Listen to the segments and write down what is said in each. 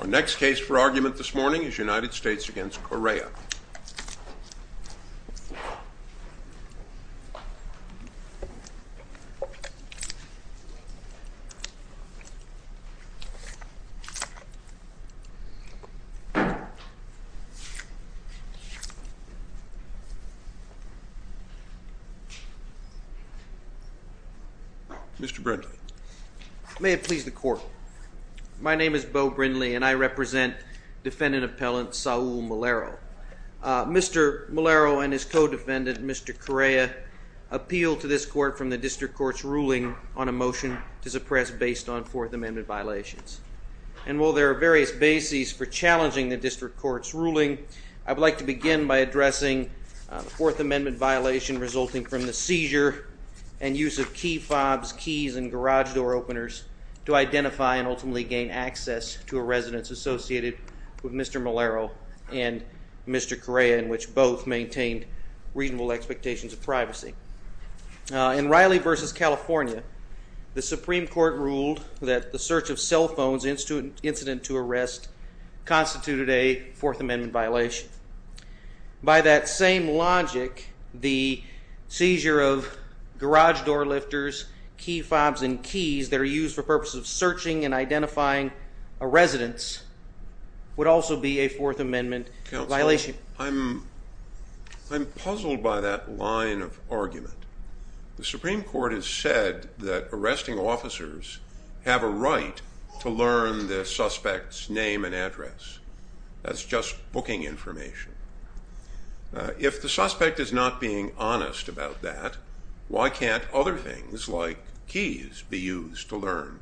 Our next case for argument this morning is United States v. Correa. Mr. Brindle. May it please the court. My name is Beau Brindle, and I represent defendant appellant Saul Malero. Mr. Malero and his co-defendant, Mr. Correa, appealed to this court from the district court's ruling on a motion to suppress based on Fourth Amendment violations. And while there are various bases for challenging the district court's ruling, I would like to begin by addressing the Fourth Amendment violation resulting from the seizure and use of key fobs, keys, and garage door openers to identify and ultimately gain access to a residence associated with Mr. Malero and Mr. Correa, in which both maintained reasonable expectations of privacy. In Riley v. California, the Supreme Court ruled that the search of cell phones incident to arrest constituted a Fourth Amendment violation. By that same logic, the seizure of garage door lifters, key fobs, and keys that are used for purposes of searching and identifying a residence would also be a Fourth Amendment violation. I'm puzzled by that line of argument. The Supreme Court has said that arresting officers have a right to learn the suspect's name and address. That's just booking information. If the suspect is not being honest about that, why can't other things, like keys, be used to learn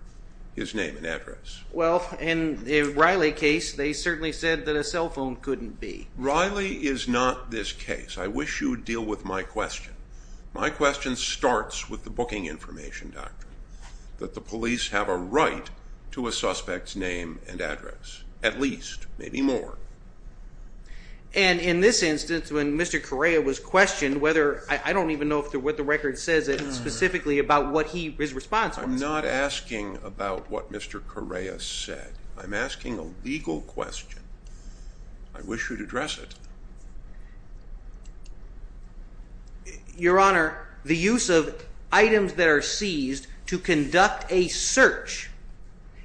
his name and address? Well, in the Riley case, they certainly said that a cell phone couldn't be. Riley is not this case. I wish you would deal with my question. My question starts with the booking information doctrine, that the police have a right to a suspect's name and address, at least, maybe more. And in this instance, when Mr. Correa was questioned, I don't even know what the record says specifically about what his response was. I'm not asking about what Mr. Correa said. I'm asking a legal question. I wish you'd address it. Your Honor, the use of items that are seized to conduct a search,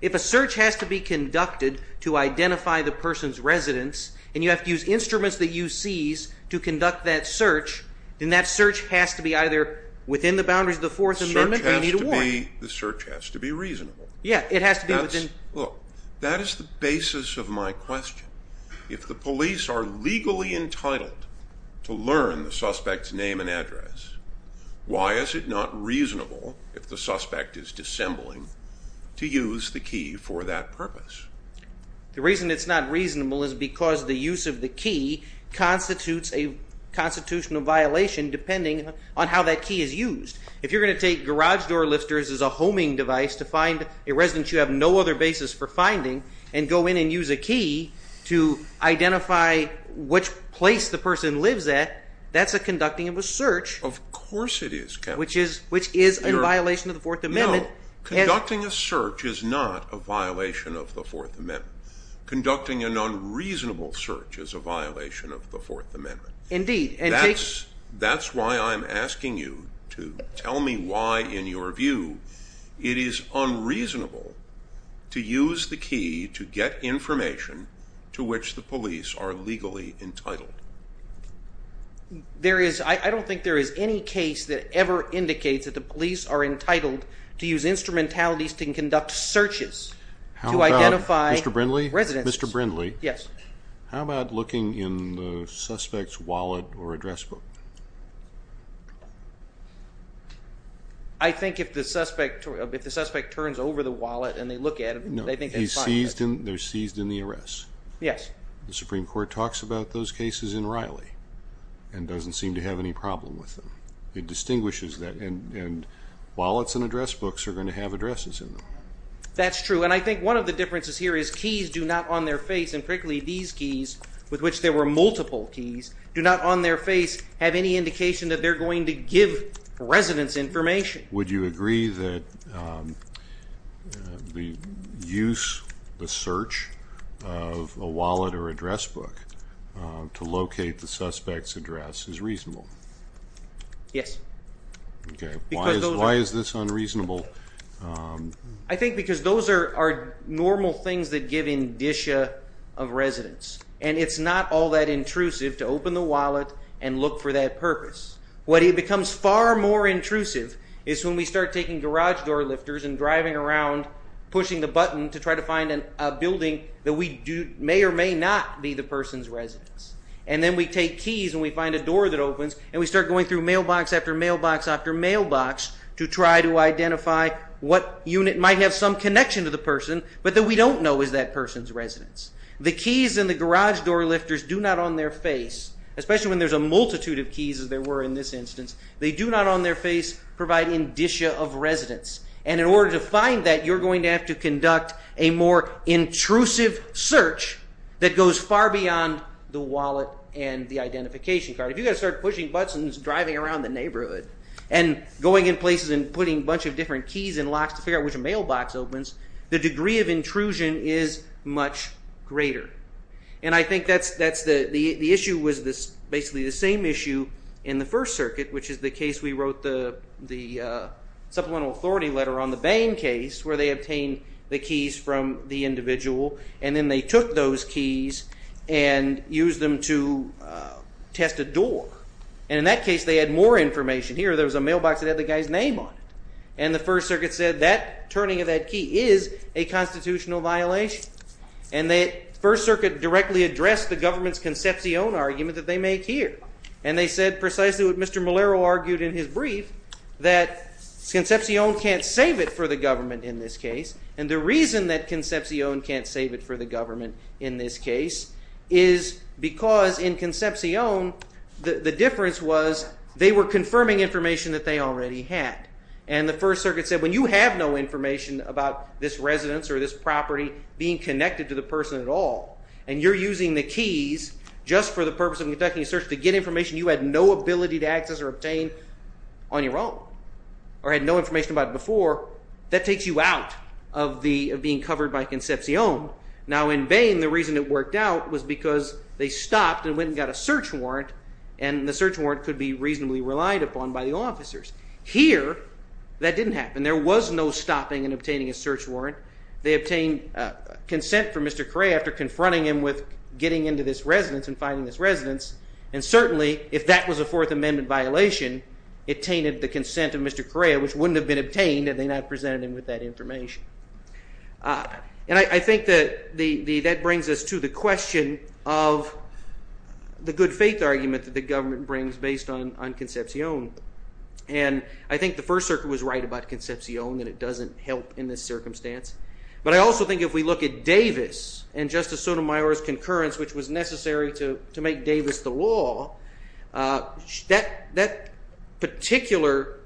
if a search has to be conducted to identify the person's residence, and you have to use instruments that you seize to conduct that search, then that search has to be either within the boundaries of the Fourth Amendment or you need a warrant. To me, the search has to be reasonable. Yeah, it has to be within… Look, that is the basis of my question. If the police are legally entitled to learn the suspect's name and address, why is it not reasonable, if the suspect is dissembling, to use the key for that purpose? The reason it's not reasonable is because the use of the key constitutes a constitutional violation depending on how that key is used. If you're going to take garage door lifters as a homing device to find a residence you have no other basis for finding and go in and use a key to identify which place the person lives at, that's a conducting of a search. Of course it is, Counselor. Which is in violation of the Fourth Amendment. No, conducting a search is not a violation of the Fourth Amendment. Conducting an unreasonable search is a violation of the Fourth Amendment. Indeed. That's why I'm asking you to tell me why, in your view, it is unreasonable to use the key to get information to which the police are legally entitled. I don't think there is any case that ever indicates that the police are entitled to use instrumentalities to conduct searches to identify residents. Mr. Brindley, how about looking in the suspect's wallet or address book? I think if the suspect turns over the wallet and they look at it, they think that's fine. No, they're seized in the arrest. Yes. The Supreme Court talks about those cases in Riley and doesn't seem to have any problem with them. It distinguishes that, and wallets and address books are going to have addresses in them. That's true, and I think one of the differences here is keys do not, on their face, and particularly these keys with which there were multiple keys, do not, on their face, have any indication that they're going to give residents information. Would you agree that the use, the search, of a wallet or address book to locate the suspect's address is reasonable? Yes. Why is this unreasonable? I think because those are normal things that give indicia of residents, and it's not all that intrusive to open the wallet and look for that purpose. What becomes far more intrusive is when we start taking garage door lifters and driving around pushing the button to try to find a building that may or may not be the person's residence. And then we take keys and we find a door that opens, and we start going through mailbox after mailbox after mailbox to try to identify what unit might have some connection to the person, but that we don't know is that person's residence. The keys in the garage door lifters do not, on their face, especially when there's a multitude of keys as there were in this instance, they do not, on their face, provide indicia of residents. And in order to find that, you're going to have to conduct a more intrusive search that goes far beyond the wallet and the identification card. If you're going to start pushing buttons driving around the neighborhood and going in places and putting a bunch of different keys and locks to figure out which mailbox opens, the degree of intrusion is much greater. And I think the issue was basically the same issue in the First Circuit, which is the case we wrote the supplemental authority letter on the Bain case, where they obtained the keys from the individual and then they took those keys and used them to test a door. And in that case they had more information. Here there was a mailbox that had the guy's name on it. And the First Circuit said that turning of that key is a constitutional violation. And the First Circuit directly addressed the government's Concepcion argument that they make here. And they said precisely what Mr. Molero argued in his brief, that Concepcion can't save it for the government in this case. And the reason that Concepcion can't save it for the government in this case is because in Concepcion the difference was they were confirming information that they already had. And the First Circuit said when you have no information about this residence or this property being connected to the person at all, and you're using the keys just for the purpose of conducting a search to get information you had no ability to access or obtain on your own, or had no information about it before, that takes you out of being covered by Concepcion. Now in Bain the reason it worked out was because they stopped and went and got a search warrant, and the search warrant could be reasonably relied upon by the officers. Here that didn't happen. There was no stopping in obtaining a search warrant. They obtained consent from Mr. Correa after confronting him with getting into this residence and finding this residence. And certainly if that was a Fourth Amendment violation it tainted the consent of Mr. Correa, which wouldn't have been obtained had they not presented him with that information. And I think that brings us to the question of the good faith argument that the government brings based on Concepcion. And I think the First Circuit was right about Concepcion and it doesn't help in this circumstance. But I also think if we look at Davis and Justice Sotomayor's concurrence, which was necessary to make Davis the law, that particular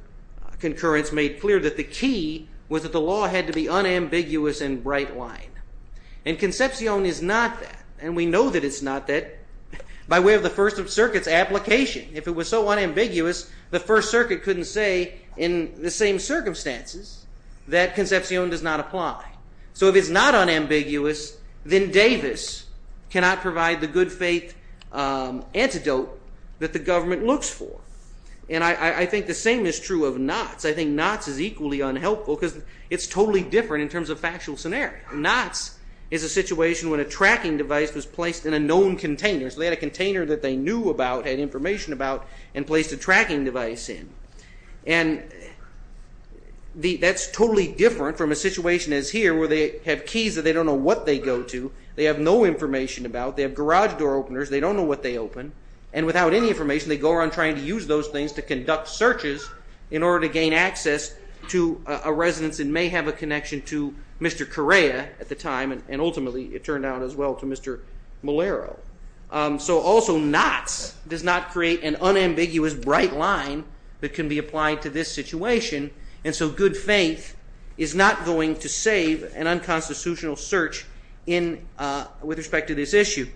concurrence made clear that the key was that the law had to be unambiguous and bright line. And Concepcion is not that. And we know that it's not that by way of the First Circuit's application. If it was so unambiguous, the First Circuit couldn't say in the same circumstances that Concepcion does not apply. So if it's not unambiguous, then Davis cannot provide the good faith antidote that the government looks for. And I think the same is true of Knott's. I think Knott's is equally unhelpful because it's totally different in terms of factual scenario. Knott's is a situation when a tracking device was placed in a known container. So they had a container that they knew about, had information about, and placed a tracking device in. And that's totally different from a situation as here where they have keys that they don't know what they go to. They have no information about. They have garage door openers. They don't know what they open. And without any information, they go around trying to use those things to conduct searches in order to gain access to a residence and may have a connection to Mr. Correa at the time. And ultimately, it turned out as well to Mr. Molero. So also, Knott's does not create an unambiguous bright line that can be applied to this situation. And so good faith is not going to save an unconstitutional search with respect to this issue.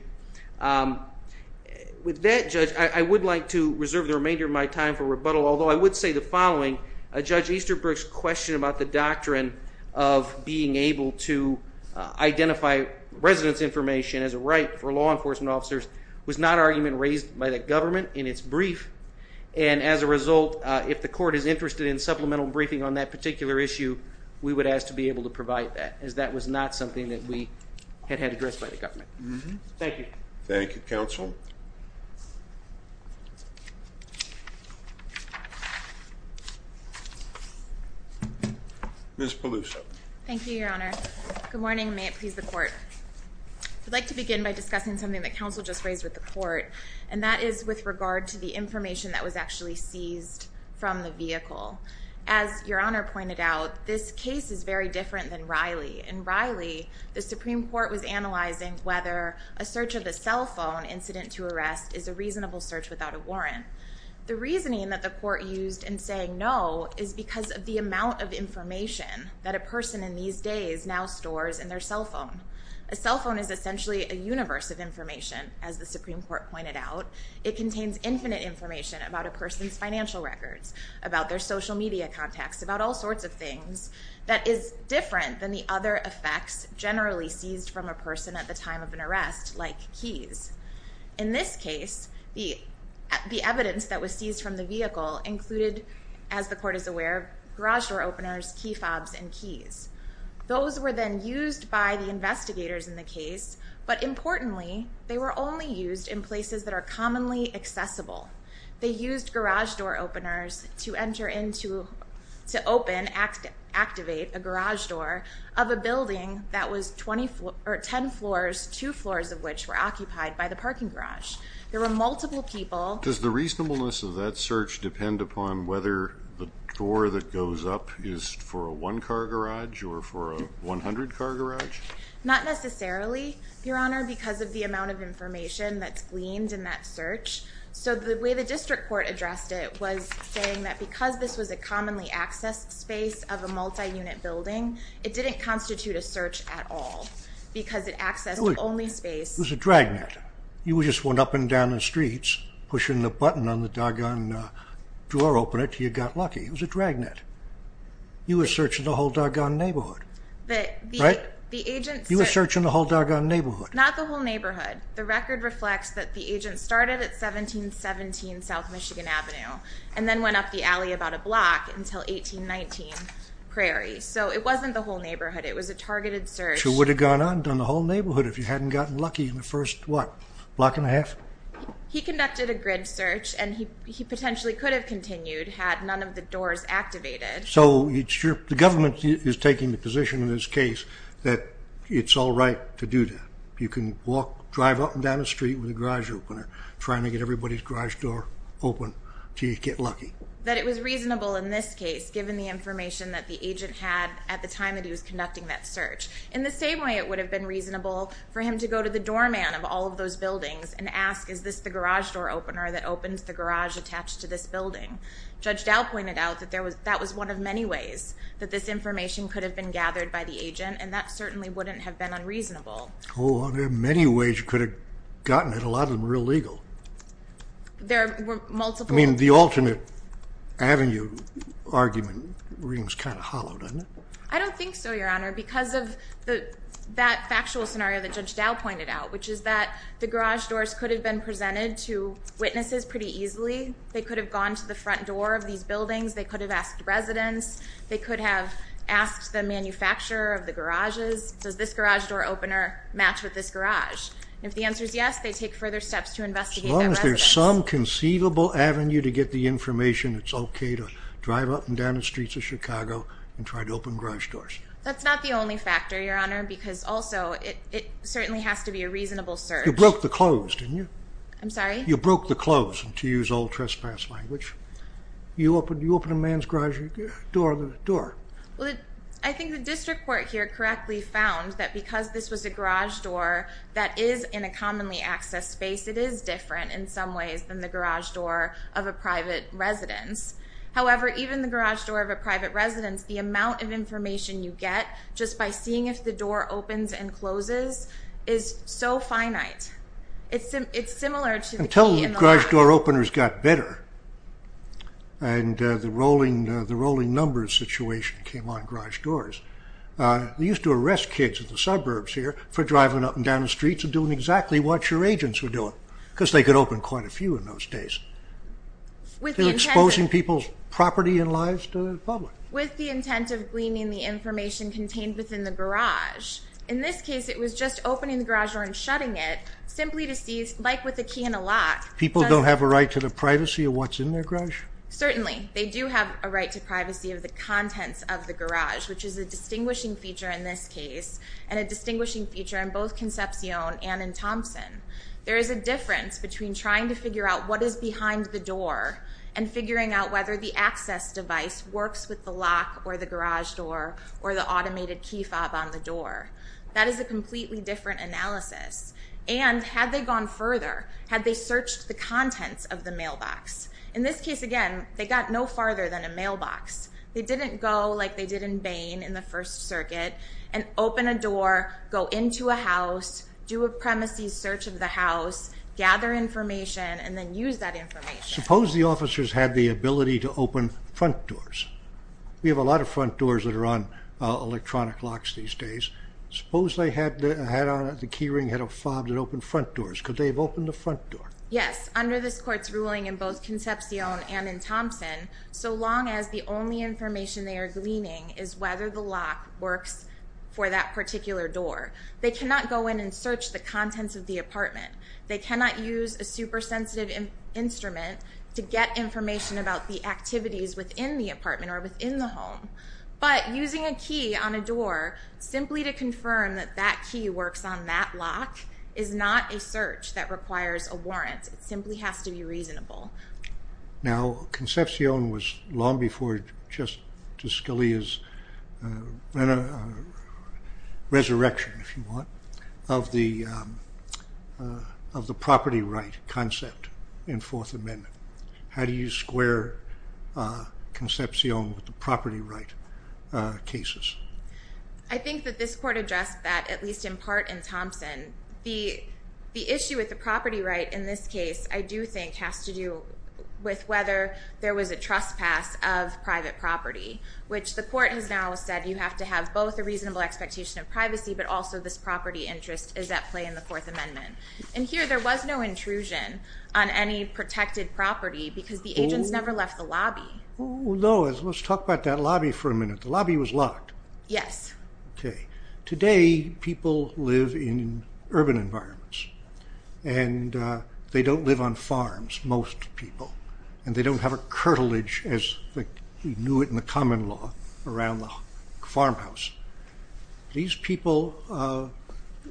With that, Judge, I would like to reserve the remainder of my time for rebuttal, although I would say the following. Judge Easterbrook's question about the doctrine of being able to identify residence information as a right for law enforcement officers was not an argument raised by the government in its brief. And as a result, if the court is interested in supplemental briefing on that particular issue, we would ask to be able to provide that, as that was not something that we had had addressed by the government. Thank you. Thank you, Counsel. Ms. Peluso. Thank you, Your Honor. Good morning, and may it please the court. I'd like to begin by discussing something that counsel just raised with the court, and that is with regard to the information that was actually seized from the vehicle. As Your Honor pointed out, this case is very different than Riley. In Riley, the Supreme Court was analyzing whether a search of a cell phone incident to arrest is a reasonable search without a warrant. The reasoning that the court used in saying no is because of the amount of information that a person in these days now stores in their cell phone. A cell phone is essentially a universe of information, as the Supreme Court pointed out. It contains infinite information about a person's financial records, about their social media contacts, about all sorts of things, that is different than the other effects generally seized from a person at the time of an arrest, like keys. In this case, the evidence that was seized from the vehicle included, as the court is aware, garage door openers, key fobs, and keys. Those were then used by the investigators in the case, but importantly, they were only used in places that are commonly accessible. They used garage door openers to enter into, to open, activate a garage door of a building that was 10 floors, 2 floors of which were occupied by the parking garage. There were multiple people. Does the reasonableness of that search depend upon whether the door that goes up is for a 1 car garage or for a 100 car garage? Not necessarily, Your Honor, because of the amount of information that's gleaned in that search. So the way the district court addressed it was saying that because this was a commonly accessed space of a multi-unit building, it didn't constitute a search at all, because it accessed only space. It was a dragnet. You just went up and down the streets, pushing the button on the doggone door opener until you got lucky. It was a dragnet. You were searching the whole doggone neighborhood. Right? You were searching the whole doggone neighborhood. Not the whole neighborhood. The record reflects that the agent started at 1717 South Michigan Avenue and then went up the alley about a block until 1819 Prairie. So it wasn't the whole neighborhood. It was a targeted search. You would have gone on and done the whole neighborhood if you hadn't gotten lucky in the first, what, block and a half? He conducted a grid search, and he potentially could have continued had none of the doors activated. So the government is taking the position in this case that it's all right to do that. You can walk, drive up and down the street with a garage opener, trying to get everybody's garage door open until you get lucky. That it was reasonable in this case, given the information that the agent had at the time that he was conducting that search. In the same way, it would have been reasonable for him to go to the doorman of all of those buildings and ask, is this the garage door opener that opens the garage attached to this building? Judge Dow pointed out that that was one of many ways that this information could have been gathered by the agent, and that certainly wouldn't have been unreasonable. Oh, there are many ways you could have gotten it. A lot of them are illegal. There were multiple. I mean, the alternate avenue argument rings kind of hollow, doesn't it? I don't think so, Your Honor, because of that factual scenario that Judge Dow pointed out, which is that the garage doors could have been presented to witnesses pretty easily. They could have gone to the front door of these buildings. They could have asked residents. They could have asked the manufacturer of the garages, does this garage door opener match with this garage? If the answer is yes, they take further steps to investigate that residence. As long as there's some conceivable avenue to get the information, it's okay to drive up and down the streets of Chicago and try to open garage doors. That's not the only factor, Your Honor, because also it certainly has to be a reasonable search. You broke the close, didn't you? I'm sorry? You broke the close, to use old trespass language. You open a man's garage door. I think the district court here correctly found that because this was a garage door that is in a commonly accessed space, it is different in some ways than the garage door of a private residence. However, even the garage door of a private residence, the amount of information you get just by seeing if the door opens and closes is so finite. It's similar to the key in the lock. And the rolling numbers situation came on garage doors. They used to arrest kids in the suburbs here for driving up and down the streets and doing exactly what your agents were doing, because they could open quite a few in those days. Exposing people's property and lives to the public. With the intent of gleaning the information contained within the garage. In this case, it was just opening the garage door and shutting it, simply to see, like with the key in the lock. People don't have a right to the privacy of what's in their garage? Certainly. They do have a right to privacy of the contents of the garage, which is a distinguishing feature in this case, and a distinguishing feature in both Concepcion and in Thompson. There is a difference between trying to figure out what is behind the door and figuring out whether the access device works with the lock or the garage door or the automated key fob on the door. That is a completely different analysis. And had they gone further, had they searched the contents of the mailbox? In this case, again, they got no farther than a mailbox. They didn't go like they did in Bain in the First Circuit and open a door, go into a house, do a premises search of the house, gather information, and then use that information. Suppose the officers had the ability to open front doors. We have a lot of front doors that are on electronic locks these days. Suppose the key ring had a fob that opened front doors. Could they have opened the front door? Yes, under this Court's ruling in both Concepcion and in Thompson, so long as the only information they are gleaning is whether the lock works for that particular door. They cannot go in and search the contents of the apartment. They cannot use a super sensitive instrument to get information about the activities within the apartment or within the home. But using a key on a door simply to confirm that that key works on that lock is not a search that requires a warrant. It simply has to be reasonable. Now, Concepcion was long before just Scalia's resurrection, if you want, of the property right concept in Fourth Amendment. How do you square Concepcion with the property right cases? I think that this Court addressed that, at least in part, in Thompson. The issue with the property right in this case, I do think, has to do with whether there was a trespass of private property, which the Court has now said you have to have both a reasonable expectation of privacy but also this property interest is at play in the Fourth Amendment. And here there was no intrusion on any protected property because the agents never left the lobby. Oh, no. Let's talk about that lobby for a minute. The lobby was locked. Yes. Okay. Today people live in urban environments and they don't live on farms, most people, and they don't have a curtilage as you knew it in the common law around the farmhouse. These people,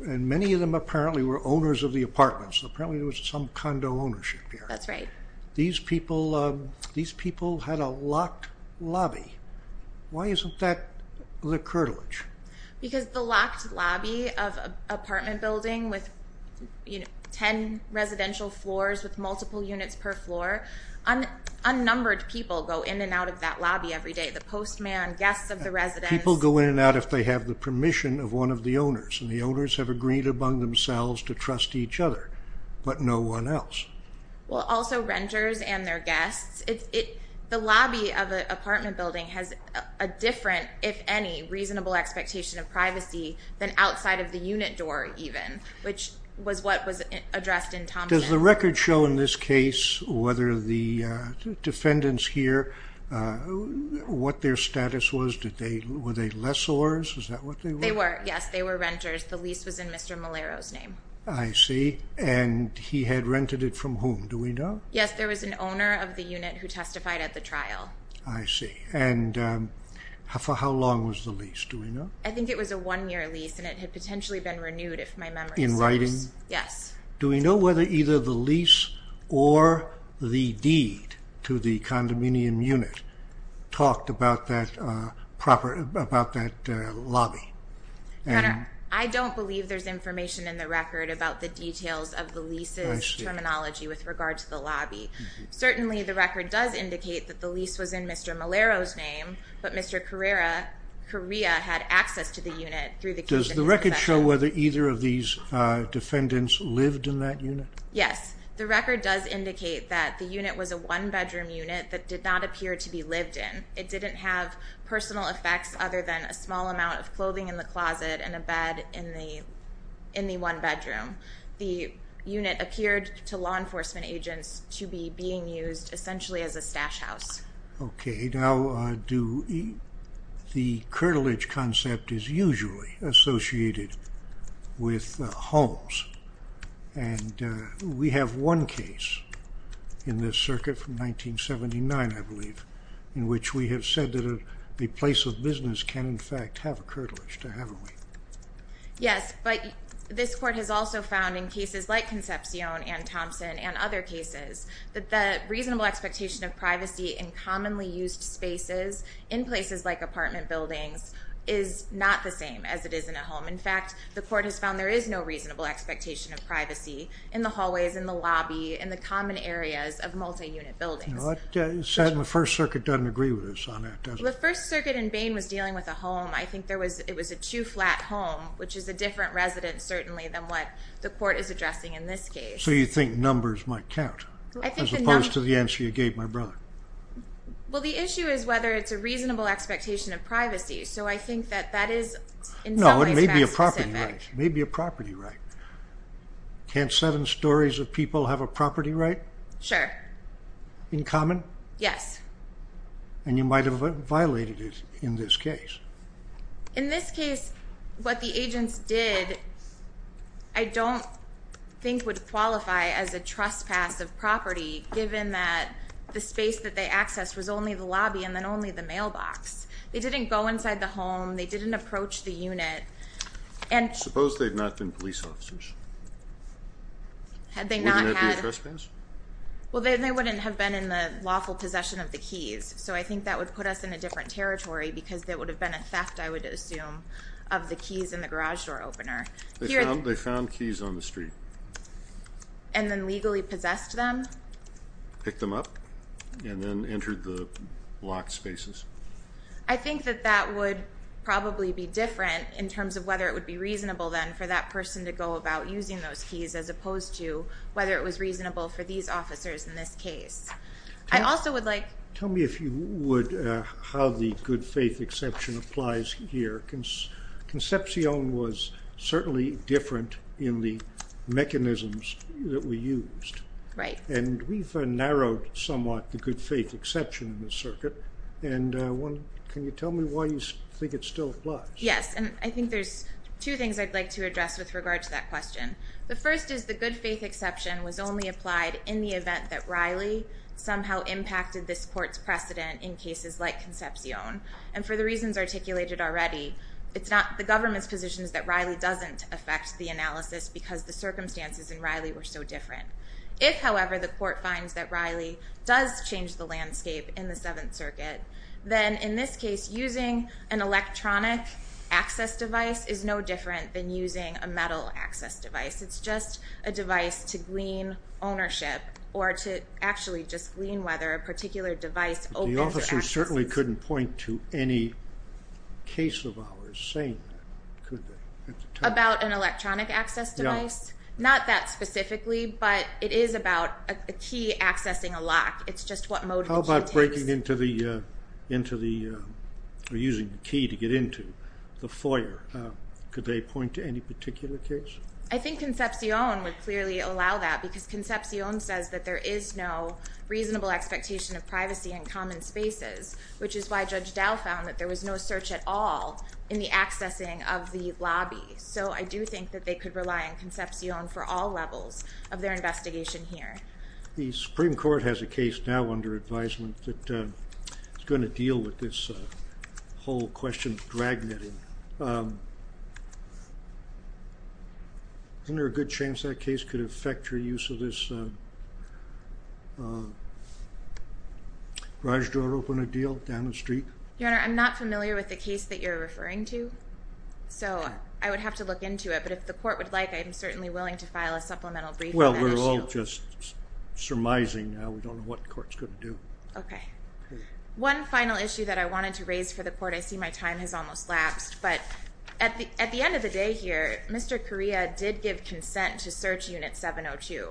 and many of them apparently were owners of the apartments, apparently there was some condo ownership here. That's right. These people had a locked lobby. Why isn't that the curtilage? Because the locked lobby of an apartment building with ten residential floors with multiple units per floor, unnumbered people go in and out of that lobby every day, the postman, guests of the residence. People go in and out if they have the permission of one of the owners, and the owners have agreed among themselves to trust each other but no one else. Well, also renters and their guests. The lobby of an apartment building has a different, if any, reasonable expectation of privacy than outside of the unit door even, which was what was addressed in Thompson. Does the record show in this case whether the defendants here, what their status was? Were they lessors? Is that what they were? They were, yes. They were renters. The lease was in Mr. Malero's name. I see. And he had rented it from whom? Do we know? Yes, there was an owner of the unit who testified at the trial. I see. And for how long was the lease? Do we know? I think it was a one-year lease, and it had potentially been renewed if my memory serves. In writing? Yes. Do we know whether either the lease or the deed to the condominium unit talked about that lobby? I don't believe there's information in the record about the details of the lease's terminology with regard to the lobby. Certainly the record does indicate that the lease was in Mr. Malero's name, but Mr. Correa had access to the unit through the case. Does the record show whether either of these defendants lived in that unit? Yes. The record does indicate that the unit was a one-bedroom unit that did not appear to be lived in. It didn't have personal effects other than a small amount of clothing in the closet and a bed in the one bedroom. The unit appeared to law enforcement agents to be being used essentially as a stash house. Okay. Now, the curtilage concept is usually associated with homes, and we have one case in this circuit from 1979, I believe, in which we have said that a place of business can, in fact, have a curtilage, haven't we? Yes, but this court has also found in cases like Concepcion and Thompson and other cases that the reasonable expectation of privacy in commonly used spaces in places like apartment buildings is not the same as it is in a home. In fact, the court has found there is no reasonable expectation of privacy in the hallways, in the lobby, in the common areas of multi-unit buildings. The First Circuit doesn't agree with us on that, does it? The First Circuit in Bain was dealing with a home. I think it was a two-flat home, which is a different residence certainly than what the court is addressing in this case. So you think numbers might count as opposed to the answer you gave my brother? Well, the issue is whether it's a reasonable expectation of privacy. So I think that that is in some ways very specific. No, it may be a property right. It may be a property right. Can't seven stories of people have a property right? Sure. In common? Yes. And you might have violated it in this case. In this case, what the agents did, I don't think would qualify as a trespass of property, given that the space that they access was only the lobby and then only the mailbox. They didn't go inside the home. They didn't approach the unit. And suppose they've not been police officers. Had they not had. Well, then they wouldn't have been in the lawful possession of the keys. So I think that would put us in a different territory because that would have been a theft. I would assume of the keys in the garage door opener. They found keys on the street. And then legally possessed them, pick them up and then entered the lock spaces. I think that that would probably be different in terms of whether it would be reasonable then for that person to go about using those keys, as opposed to whether it was reasonable for these officers. In this case, I also would like. Tell me if you would, how the good faith exception applies here. Concepcion was certainly different in the mechanisms that we used. Right. And we've narrowed somewhat the good faith exception in the circuit. And one, can you tell me why you think it still applies? Yes. And I think there's two things I'd like to address with regard to that question. The first is the good faith exception was only applied in the event that there was a court's precedent in cases like Concepcion. And for the reasons articulated already, it's not the government's positions that Riley doesn't affect the analysis because the circumstances in Riley were so different. If however, the court finds that Riley does change the landscape in the seventh circuit. Then in this case, using an electronic access device is no different than using a metal access device. It's just a device to glean ownership or to actually just glean, whether a particular device opens or accesses. The officer certainly couldn't point to any case of ours saying that, could they? About an electronic access device? No. Not that specifically, but it is about a key accessing a lock. It's just what mode. How about breaking into the, into the, or using the key to get into the foyer. Could they point to any particular case? I think Concepcion would clearly allow that because Concepcion says that there is no reasonable expectation of privacy in common spaces, which is why judge Dow found that there was no search at all in the accessing of the lobby. So I do think that they could rely on Concepcion for all levels of their investigation here. The Supreme court has a case now under advisement that it's going to deal with this whole question, dragging it in. Is there a good chance that case could affect your use of this garage door open a deal down the street? Your Honor, I'm not familiar with the case that you're referring to. So I would have to look into it, but if the court would like, I'm certainly willing to file a supplemental brief. Well, we're all just surmising now. We don't know what court's going to do. Okay. One final issue that I wanted to raise for the court. I see my time has almost lapsed, but at the end of the day here, Mr. Correa did give consent to search unit 702.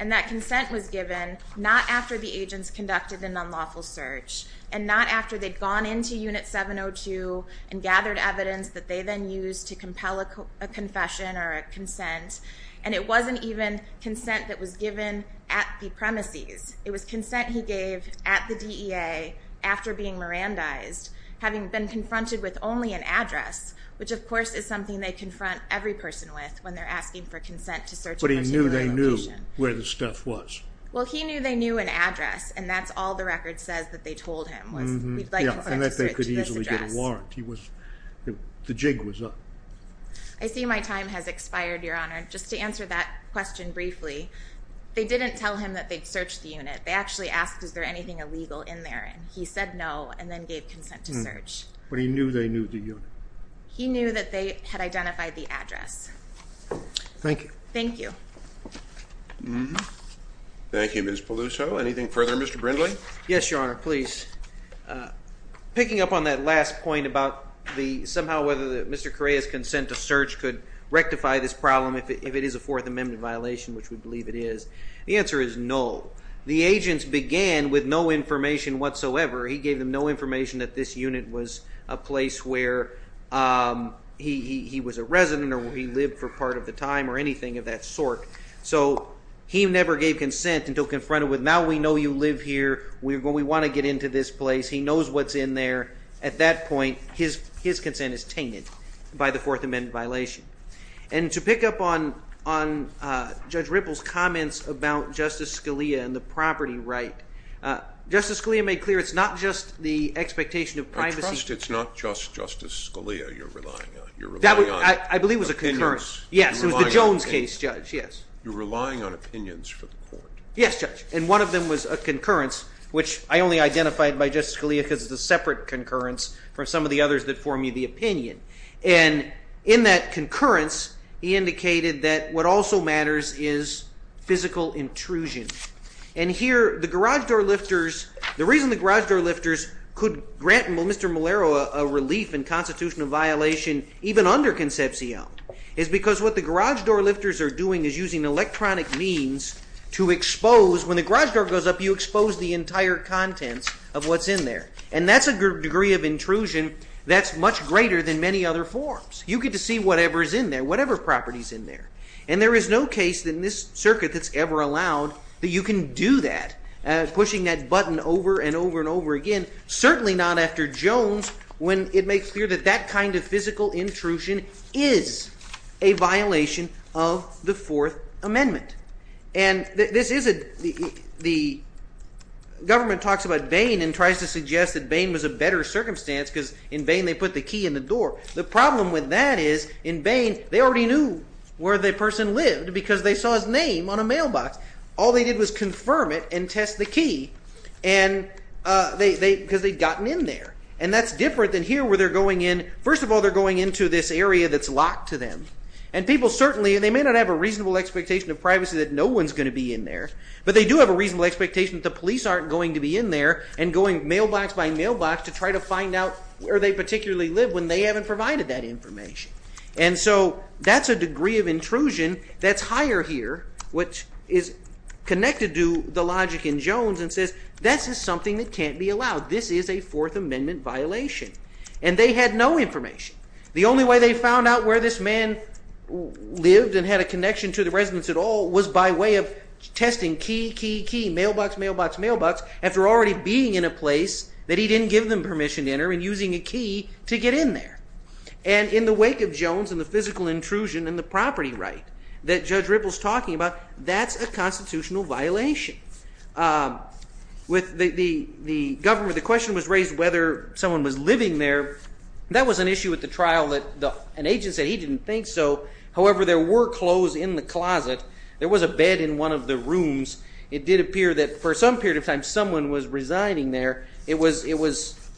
And that consent was given not after the agents conducted an unlawful search and not after they'd gone into unit 702 and gathered evidence that they then used to compel a confession or a consent. And it wasn't even consent that was given at the premises. It was consent he gave at the DEA after being Mirandized, having been confronted with only an address, which of course is something they confront every person with when they're asking for consent to search a particular location. But he knew they knew where the stuff was. Well, he knew they knew an address, and that's all the record says that they told him was we'd like you to search this address. And that they could easily get a warrant. The jig was up. I see my time has expired, Your Honor. Just to answer that question briefly, they didn't tell him that they'd searched the unit. They actually asked, is there anything illegal in there? And he said no, and then gave consent to search. But he knew they knew the unit. He knew that they had identified the address. Thank you. Thank you. Thank you, Ms. Peluso. Anything further, Mr. Brindley? Yes, Your Honor, please. Picking up on that last point about the somehow whether Mr. Correa's consent to search could rectify this problem if it is a Fourth Amendment violation, which we believe it is. The answer is no. The agents began with no information whatsoever. He gave them no information that this unit was a place where he was a resident or he lived for part of the time or anything of that sort. So he never gave consent until confronted with now we know you live here, we want to get into this place. He knows what's in there. At that point, his consent is tainted by the Fourth Amendment violation. And to pick up on Judge Ripple's comments about Justice Scalia and the property right, Justice Scalia made clear it's not just the expectation of privacy. I trust it's not just Justice Scalia you're relying on. You're relying on opinions. I believe it was a concurrence. Yes, it was the Jones case, Judge, yes. You're relying on opinions for the court. Yes, Judge. And one of them was a concurrence, which I only identified by Justice Scalia because it's a separate concurrence from some of the others that form the opinion. And in that concurrence, he indicated that what also matters is physical intrusion. And here, the garage door lifters, the reason the garage door lifters could grant Mr. Malero a relief and constitutional violation even under Concepcion is because what the garage door lifters are doing is using electronic means to expose, when the garage door goes up, you expose the entire contents of what's in there. And that's a degree of intrusion that's much greater than many other forms. You get to see whatever is in there, whatever property is in there. And there is no case in this circuit that's ever allowed that you can do that, pushing that button over and over and over again, certainly not after Jones when it makes clear that that kind of physical intrusion is a violation of the Fourth Amendment. And the government talks about Bain and tries to suggest that Bain was a better circumstance because in Bain, they put the key in the door. The problem with that is in Bain, they already knew where the person lived because they saw his name on a mailbox. All they did was confirm it and test the key because they'd gotten in there. And that's different than here where they're going in. First of all, they're going into this area that's locked to them. And people certainly, and they may not have a reasonable expectation of privacy that no one's going to be in there, but they do have a reasonable expectation that the police aren't going to be in there and going mailbox by mailbox to try to find out where they particularly live when they haven't provided that information. And so that's a degree of intrusion that's higher here, which is connected to the logic in Jones and says this is something that can't be allowed. This is a Fourth Amendment violation. And they had no information. The only way they found out where this man lived and had a connection to the residents at all was by way of testing key, key, key, mailbox, mailbox, mailbox, after already being in a place that he didn't give them permission to enter and using a key to get in there. And in the wake of Jones and the physical intrusion and the property right that Judge Ripple's talking about, that's a constitutional violation. With the government, the question was raised whether someone was living there. That was an issue at the trial that an agent said he didn't think so. However, there were clothes in the closet. There was a bed in one of the rooms. It did appear that for some period of time someone was residing there. It was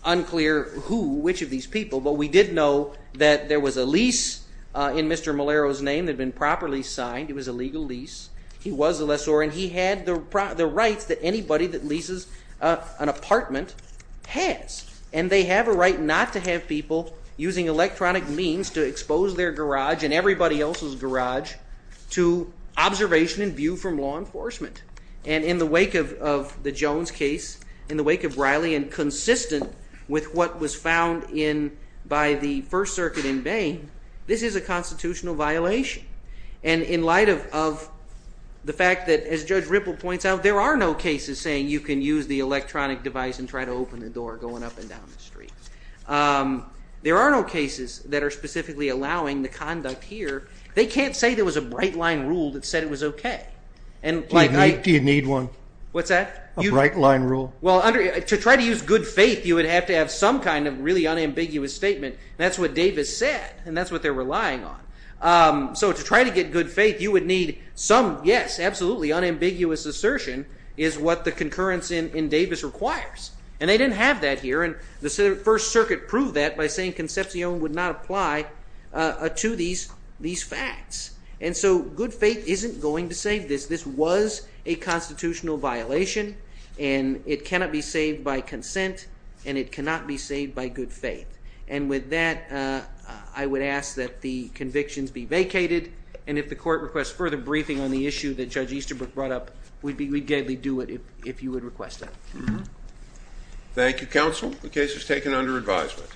unclear who, which of these people. But we did know that there was a lease in Mr. Malero's name that had been properly signed. It was a legal lease. He was a lessor, and he had the rights that anybody that leases an apartment has. And they have a right not to have people using electronic means to expose their garage and everybody else's garage to observation and view from law enforcement. And in the wake of the Jones case, in the wake of Riley and consistent with what was found by the First Circuit in Bain, this is a constitutional violation. And in light of the fact that, as Judge Ripple points out, there are no cases saying you can use the electronic device and try to open the door going up and down the street. There are no cases that are specifically allowing the conduct here. They can't say there was a bright line rule that said it was okay. Do you need one? What's that? A bright line rule. Well, to try to use good faith, you would have to have some kind of really unambiguous statement. That's what Davis said, and that's what they're relying on. So to try to get good faith, you would need some, yes, absolutely, unambiguous assertion is what the concurrence in Davis requires. And they didn't have that here, and the First Circuit proved that by saying Concepcion would not apply to these facts. And so good faith isn't going to save this. This was a constitutional violation, and it cannot be saved by consent, and it cannot be saved by good faith. And with that, I would ask that the convictions be vacated, and if the court requests further briefing on the issue that Judge Easterbrook brought up, we'd gaily do it if you would request that. Thank you, counsel. The case is taken under advisement.